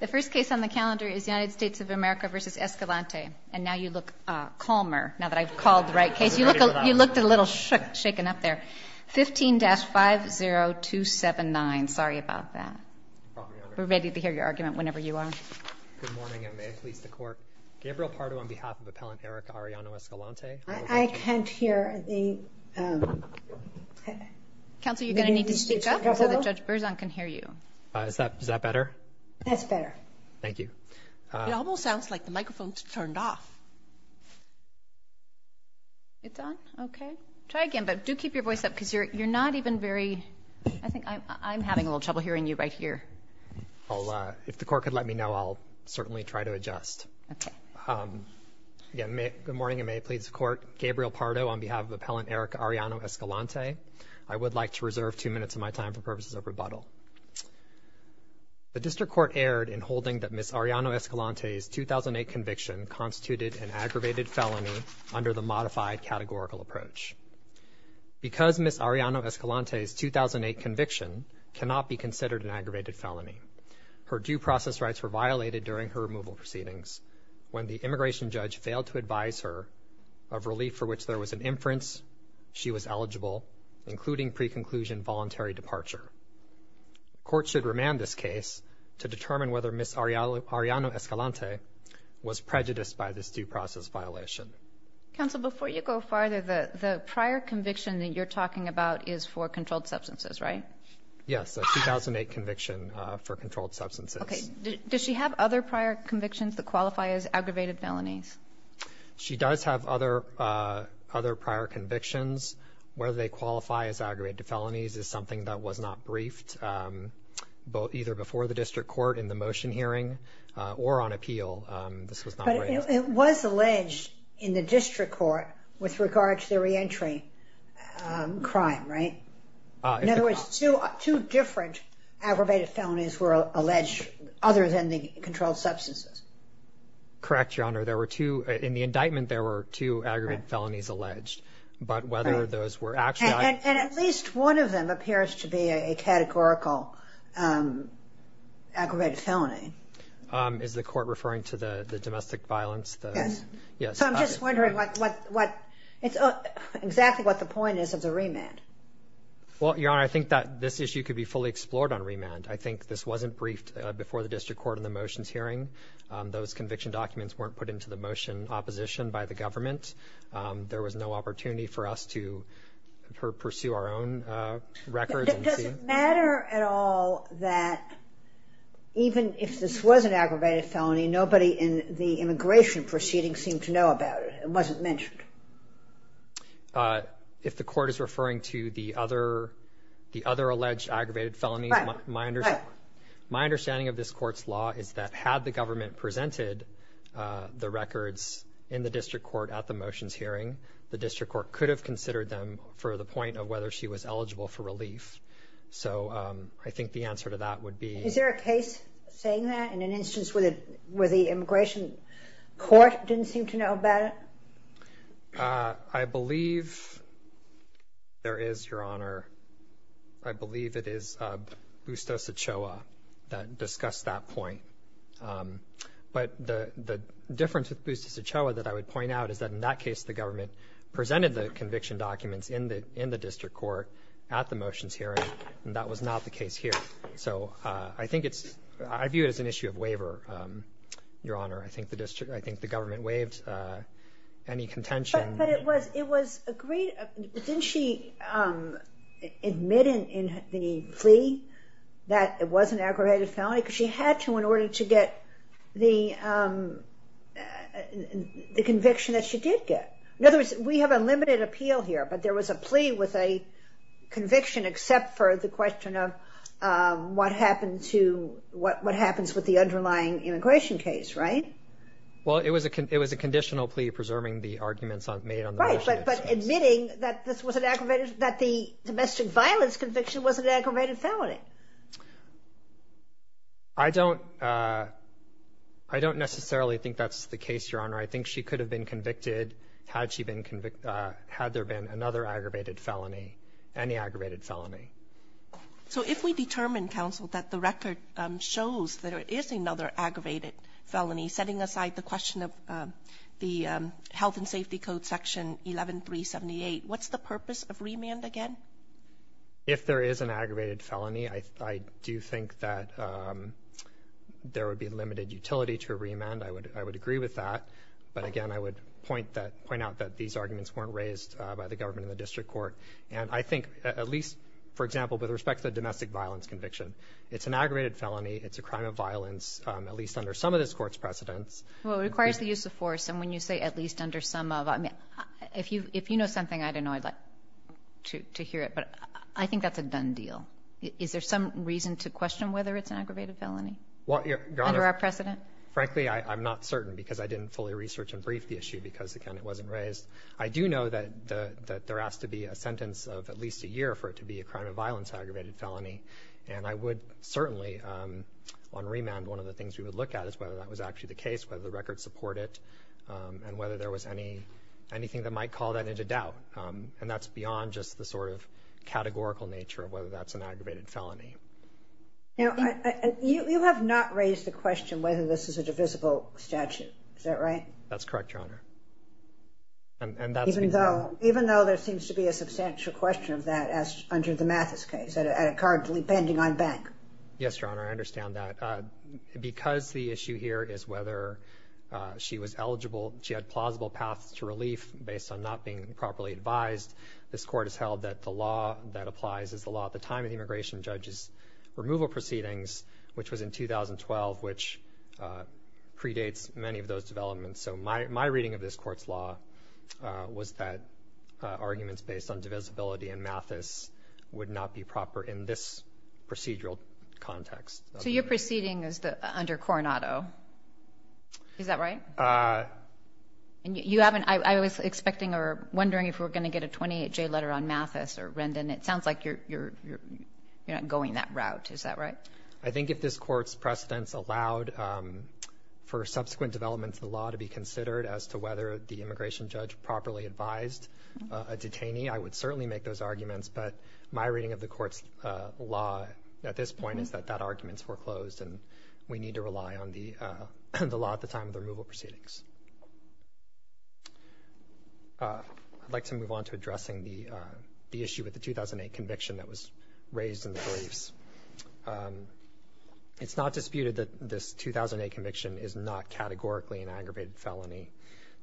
The first case on the calendar is United States of America v. Escalante and now you look calmer now that I've called the right case. You look a little shaken up there. 15-50279. Sorry about that. We're ready to hear your argument whenever you are. Good morning and may it please the court. Gabriel Pardo on behalf of Appellant Ericka Arellano Escalante. I can't hear. Counsel, you're gonna need to speak up so that Judge Berzon can hear you. Is that better? That's better. Thank you. It almost sounds like the microphone's turned off. It's on? Okay. Try again but do keep your voice up because you're not even very, I think I'm having a little trouble hearing you right here. If the court could let me know I'll certainly try to adjust. Good morning and may it please the court. Gabriel Pardo on behalf of Appellant Ericka Arellano Escalante. I would like to reserve two minutes of my time for purposes of rebuttal. The District Court erred in holding that Ms. Arellano Escalante's 2008 conviction constituted an aggravated felony under the modified categorical approach. Because Ms. Arellano Escalante's 2008 conviction cannot be considered an aggravated felony, her due process rights were violated during her removal proceedings when the immigration judge failed to advise her of relief for which there was an inference she was eligible, including pre-conclusion voluntary departure. Court should remand this case to determine whether Ms. Arellano Escalante was prejudiced by this due process violation. Counsel, before you go farther, the prior conviction that you're talking about is for controlled substances, right? Yes, a 2008 conviction for controlled substances. Okay, does she have other prior convictions that qualify as aggravated felonies? She does have other prior convictions. Whether they qualify as aggravated felonies is something that was not briefed either before the District Court in the motion hearing or on appeal. This was not briefed. But it was alleged in the District Court with regard to the reentry crime, right? In other words, two different aggravated felonies were alleged other than the controlled substances. Correct, Your Honor. In the indictment, there were two aggravated felonies alleged. But whether those were actually... And at least one of them appears to be a categorical aggravated felony. Is the court referring to the the domestic violence? Yes. So I'm just wondering exactly what the point is of the remand. Well, Your Honor, I think that this issue could be fully explored on remand. I think this wasn't briefed before the District Court in the motions hearing. Those conviction documents weren't put into the motion opposition by the government. There was no opportunity for us to pursue our own records. Does it matter at all that even if this was an aggravated felony, nobody in the immigration proceeding seemed to know about it? It wasn't mentioned. If the court is referring to the other alleged aggravated felony, my understanding of this court's law is that had the government presented the records in the District Court at the motions hearing, the District Court could have considered them for the point of whether she was eligible for relief. So I think the answer to that would be... Is there a case saying that in an instance where the immigration court didn't seem to know about it? I believe there is, Your Honor. I believe it is Bustos Ochoa that discussed that point. But the difference with Bustos Ochoa that I would point out is that in that case the government presented the conviction documents in the in the District Court at the motions hearing, and that was not the case here. So I think it's... I view it as an issue of waiver, Your Honor. I think the district... I think the government waived any contention. But it was agreed... Didn't she admit in the plea that it was an aggravated felony? Because she had to in order to get the the conviction that she did get. In other words, we have a limited appeal here, but there was a plea with a conviction except for the question of what happened to... what It was a conditional plea preserving the arguments made on the motion. But admitting that this was an aggravated... that the domestic violence conviction was an aggravated felony. I don't... I don't necessarily think that's the case, Your Honor. I think she could have been convicted had she been convicted... had there been another aggravated felony, any aggravated felony. So if we determine, counsel, that the record shows that it is another aggravated felony, setting aside the Health and Safety Code section 11378, what's the purpose of remand again? If there is an aggravated felony, I do think that there would be limited utility to remand. I would... I would agree with that. But again, I would point that... point out that these arguments weren't raised by the government in the district court. And I think at least, for example, with respect to the domestic violence conviction, it's an aggravated felony. It's a crime of violence, at least under some of this court's precedents. Well, it requires the use of force. And when you say at least under some of... I mean, if you... if you know something, I don't know I'd like to hear it. But I think that's a done deal. Is there some reason to question whether it's an aggravated felony? Well, Your Honor... Under our precedent? Frankly, I'm not certain because I didn't fully research and brief the issue because, again, it wasn't raised. I do know that there has to be a sentence of at least a year for it to be a crime of violence aggravated felony. And I would certainly, on remand, one of the things we would look at is whether that was actually the case, whether the records support it, and whether there was any... anything that might call that into doubt. And that's beyond just the sort of categorical nature of whether that's an aggravated felony. Now, you have not raised the question whether this is a divisible statute. Is that right? That's correct, Your Honor. And that's... Even though... even though there seems to be a substantial question of that as under the Mathis case, at a card pending on bank. Yes, Your Honor. Because the issue here is whether she was eligible, she had plausible paths to relief based on not being properly advised, this Court has held that the law that applies is the law at the time of the immigration judge's removal proceedings, which was in 2012, which predates many of those developments. So my reading of this Court's law was that arguments based on divisibility in Mathis would not be proper in this procedural context. So you are proceeding under Coronado. Is that right? And you haven't... I was expecting or wondering if we're going to get a 28-J letter on Mathis or Rendon. It sounds like you're not going that route. Is that right? I think if this Court's precedents allowed for subsequent developments in the law to be considered as to whether the immigration judge properly advised a detainee, I would certainly make those arguments. But my reading of the Court's law at this point is that that argument's foreclosed and we need to rely on the law at the time of the removal proceedings. I'd like to move on to addressing the issue with the 2008 conviction that was raised in the briefs. It's not disputed that this 2008 conviction is not categorically an aggravated felony.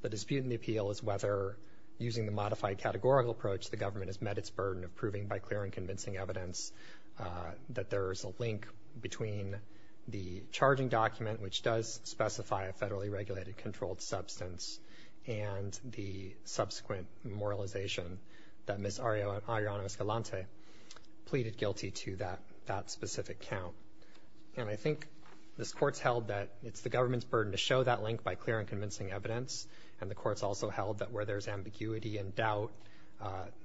The dispute in the appeal is whether, using the modified categorical approach, the government has met its burden of proving by clear and convincing evidence that there is a link between the charging document, which does specify a federally regulated controlled substance, and the subsequent memorialization that Miss Ariana Escalante pleaded guilty to that specific count. And I think this Court's held that it's the government's burden to show that link by clear and convincing evidence. And the Court's also held that where there's ambiguity and doubt,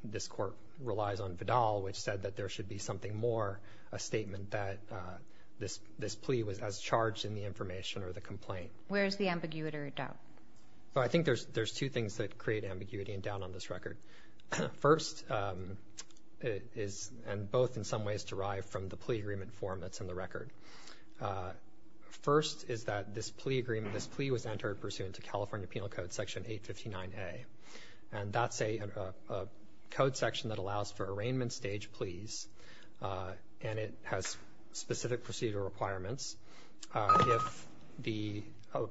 this Court relies on Vidal, which said that there should be something more, a statement that this plea was as charged in the information or the complaint. Where is the ambiguity or doubt? I think there's two things that create ambiguity and doubt on this record. First, it is, and both in some ways, derived from the plea agreement form that's in the record. First is that this plea agreement, this plea was entered pursuant to California Penal Code Section 859A. And that's a code section that allows for arraignment stage pleas, and it has specific procedure requirements. If the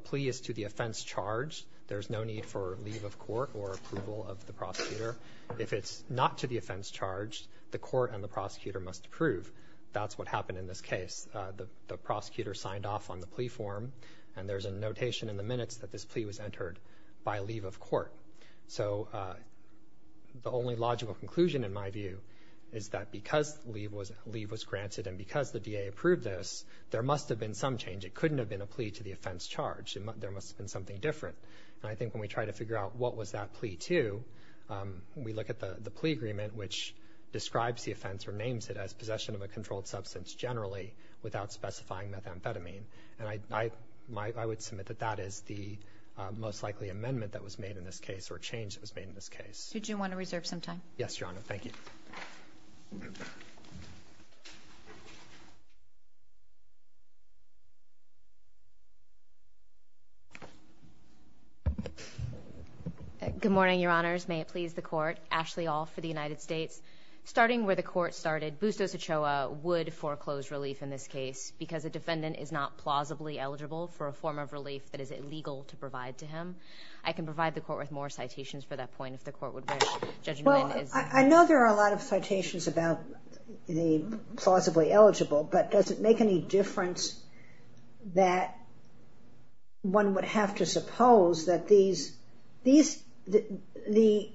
plea is to the offense charged, there's no need for leave of court or approval of the prosecutor. If it's not to the offense charged, the court and the prosecutor must approve. That's what happened in this case. The prosecutor signed off on the plea form, and there's a notation in the minutes that this plea was entered by leave of court. So the only logical conclusion, in my view, is that because leave was granted and because the DA approved this, there must have been some change. It couldn't have been a plea to the offense charged. There must have been something different. And I think when we try to figure out what was that plea to, we look at the plea agreement, which describes the offense or names it as possession of a controlled substance generally without specifying methamphetamine. And I would submit that that is the most likely amendment that was made in this case or change that was made in this case. Did you want to reserve some time? Yes, Your Honor. Thank you. Good morning, Your Honors. May it please the court. Ashley All for the United States. Starting where the court started, Bustos Ochoa would foreclose relief in this case because a defendant is not plausibly eligible for a form of relief that is illegal to provide to him. I can provide the court with more citations for that point, if the court would wish. Judge Nguyen is- I know there are a lot of citations about the plausibly eligible, but does it make any difference that one would have to suppose that these- the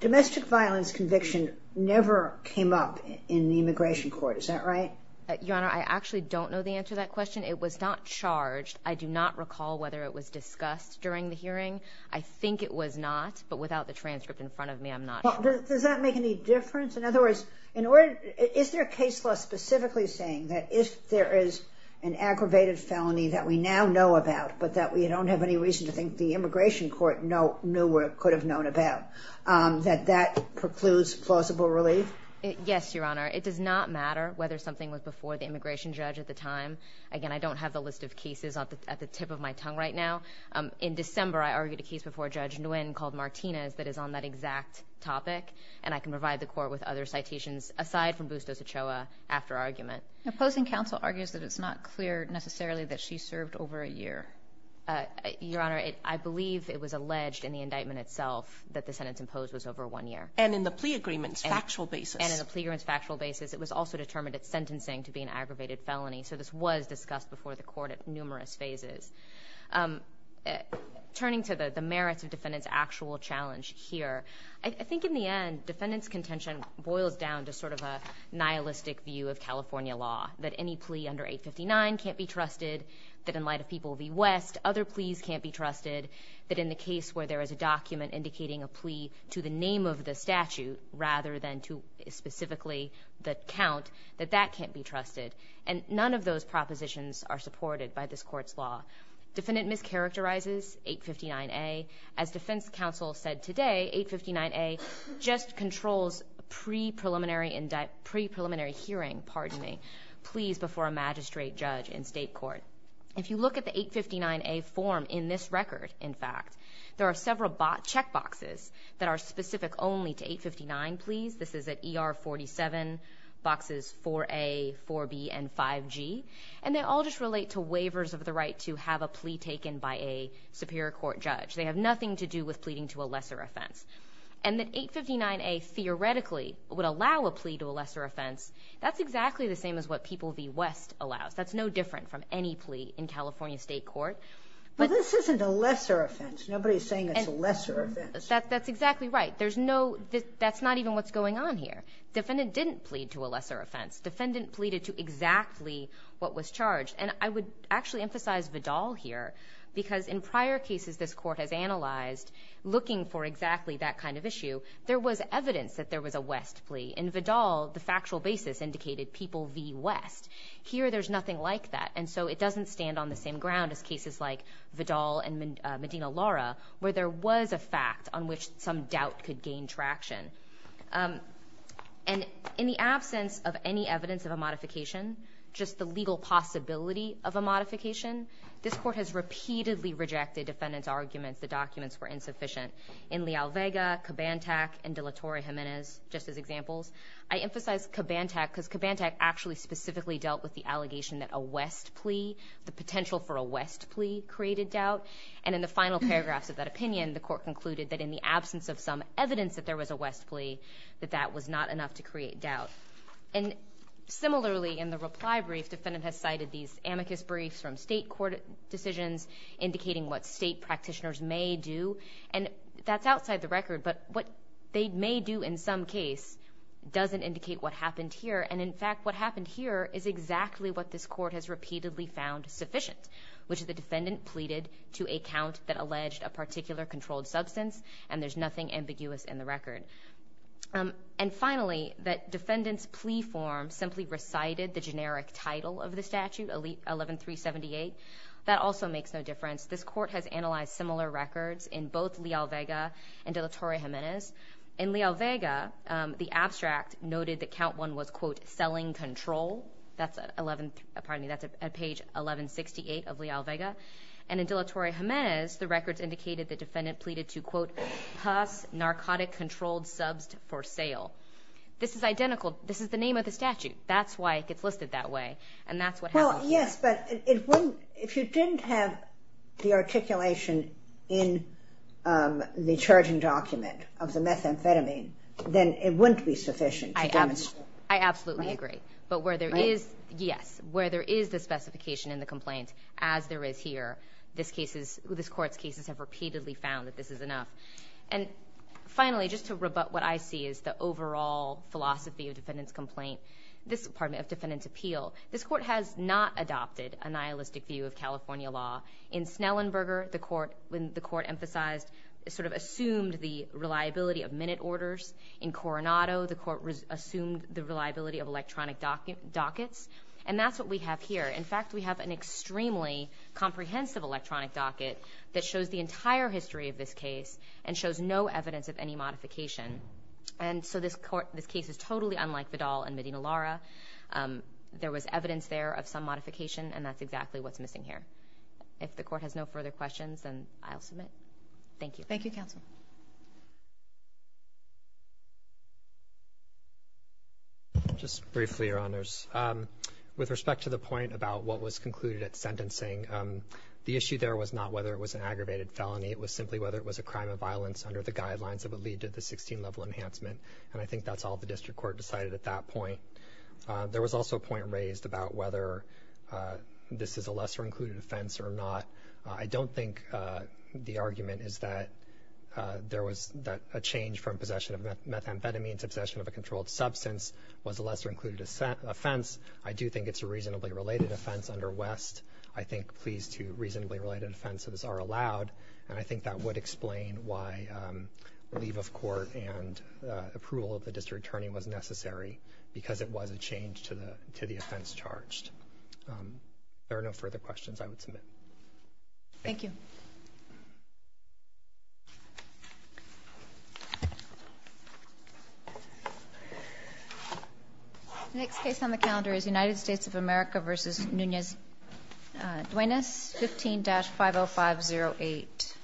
domestic violence conviction never came up in the immigration court. Is that right? Your Honor, I actually don't know the answer to that question. It was not charged. I do not recall whether it was discussed during the hearing. I think it was not, but without the transcript in front of me, I'm not sure. Does that make any difference? In other words, in order- is there a case law specifically saying that if there is an aggravated felony that we now know about, but that we don't have any reason to think the immigration court knew what it could have known about, that that precludes plausible relief? Yes, Your Honor. It does not matter whether something was before the immigration judge at the time. Again, I don't have the list of cases at the tip of my tongue right now. In December, I argued a case before Judge Nguyen called Martinez that is on that exact topic, and I can provide the court with other citations, aside from Bustos Ochoa, after argument. The opposing counsel argues that it's not clear, necessarily, that she served over a year. Your Honor, I believe it was alleged in the indictment itself that the sentence imposed was over one year. And in the plea agreements, factual basis. And in the plea agreements, factual basis, it was also determined that sentencing to be an aggravated felony. So this was discussed before the court at numerous phases. Turning to the merits of defendant's actual challenge here, I think in the end, defendant's contention boils down to sort of a nihilistic view of California law, that any plea under 859 can't be trusted, that in light of People v. West, other pleas can't be trusted, that in the case where there is a document indicating a plea to the name of the defendant, specifically the count, that that can't be trusted. And none of those propositions are supported by this Court's law. Defendant mischaracterizes 859A. As defense counsel said today, 859A just controls pre-preliminary hearing, pardon me, pleas before a magistrate, judge, and state court. If you look at the 859A form in this record, in fact, there are several checkboxes that are specific only to 859 pleas. This is at ER 47, boxes 4A, 4B, and 5G. And they all just relate to waivers of the right to have a plea taken by a superior court judge. They have nothing to do with pleading to a lesser offense. And that 859A theoretically would allow a plea to a lesser offense, that's exactly the same as what People v. West allows. That's no different from any plea in California state court. But this isn't a lesser offense. Nobody's saying it's a lesser offense. That's exactly right. There's no, that's not even what's going on here. Defendant didn't plead to a lesser offense. Defendant pleaded to exactly what was charged. And I would actually emphasize Vidal here, because in prior cases this Court has analyzed, looking for exactly that kind of issue, there was evidence that there was a West plea. In Vidal, the factual basis indicated People v. West. Here there's nothing like that. And so it doesn't stand on the same ground as cases like Vidal and Medina-Laura, where there was a fact on which some doubt could gain traction. And in the absence of any evidence of a modification, just the legal possibility of a modification, this Court has repeatedly rejected defendant's arguments the documents were insufficient. In Leal-Vega, Kabantak, and De La Torre-Gimenez, just as examples. I emphasize Kabantak because Kabantak actually specifically dealt with the allegation that a West plea, the potential for a West plea, created doubt. And in the final paragraphs of that opinion, the Court concluded that in the absence of some evidence that there was a West plea, that that was not enough to create doubt. And similarly, in the reply brief, defendant has cited these amicus briefs from state court decisions, indicating what state practitioners may do. And that's outside the record, but what they may do in some case doesn't indicate what happened here. And in fact, what happened here is exactly what this Court has repeatedly found sufficient, which is the defendant pleaded to a count that alleged a particular controlled substance, and there's nothing ambiguous in the record. And finally, that defendant's plea form simply recited the generic title of the statute, 11378. That also makes no difference. This Court has analyzed similar records in both Leal-Vega and De La Torre-Gimenez. In Leal-Vega, the abstract noted that count one was, quote, selling control. That's at page 1168 of Leal-Vega. And in De La Torre-Gimenez, the records indicated the defendant pleaded to, quote, pass narcotic controlled subs for sale. This is identical. This is the name of the statute. That's why it gets listed that way. And that's what happened here. Well, yes, but if you didn't have the articulation in the charging document of the methamphetamine, then it wouldn't be sufficient to demonstrate. I absolutely agree. But where there is, yes, where there is the specification in the complaint, as there is here, this Court's cases have repeatedly found that this is enough. And finally, just to rebut what I see as the overall philosophy of defendant's appeal, this Court has not adopted a nihilistic view of California law. In Snellenberger, the Court emphasized, sort of assumed the reliability of electronic dockets. And that's what we have here. In fact, we have an extremely comprehensive electronic docket that shows the entire history of this case and shows no evidence of any modification. And so this Court, this case is totally unlike Vidal and Medina Lara. There was evidence there of some modification, and that's exactly what's missing here. If the Court has no further questions, then I'll submit. Thank you. Thank you, counsel. Just briefly, Your Honors. With respect to the point about what was concluded at sentencing, the issue there was not whether it was an aggravated felony. It was simply whether it was a crime of violence under the guidelines that would lead to the 16-level enhancement. And I think that's all the district court decided at that point. There was also a point raised about whether this is a lesser-included offense or not. I don't think the argument is that there was a change from possession of methamphetamine to possession of a was a lesser-included offense. I do think it's a reasonably related offense under West. I think pleas to reasonably related offenses are allowed, and I think that would explain why leave of court and approval of the district attorney was necessary, because it was a change to the offense charged. There are no further questions I would submit. Thank you. The next case on the calendar is United States of America v. Nunez-Duenes, 15-50508.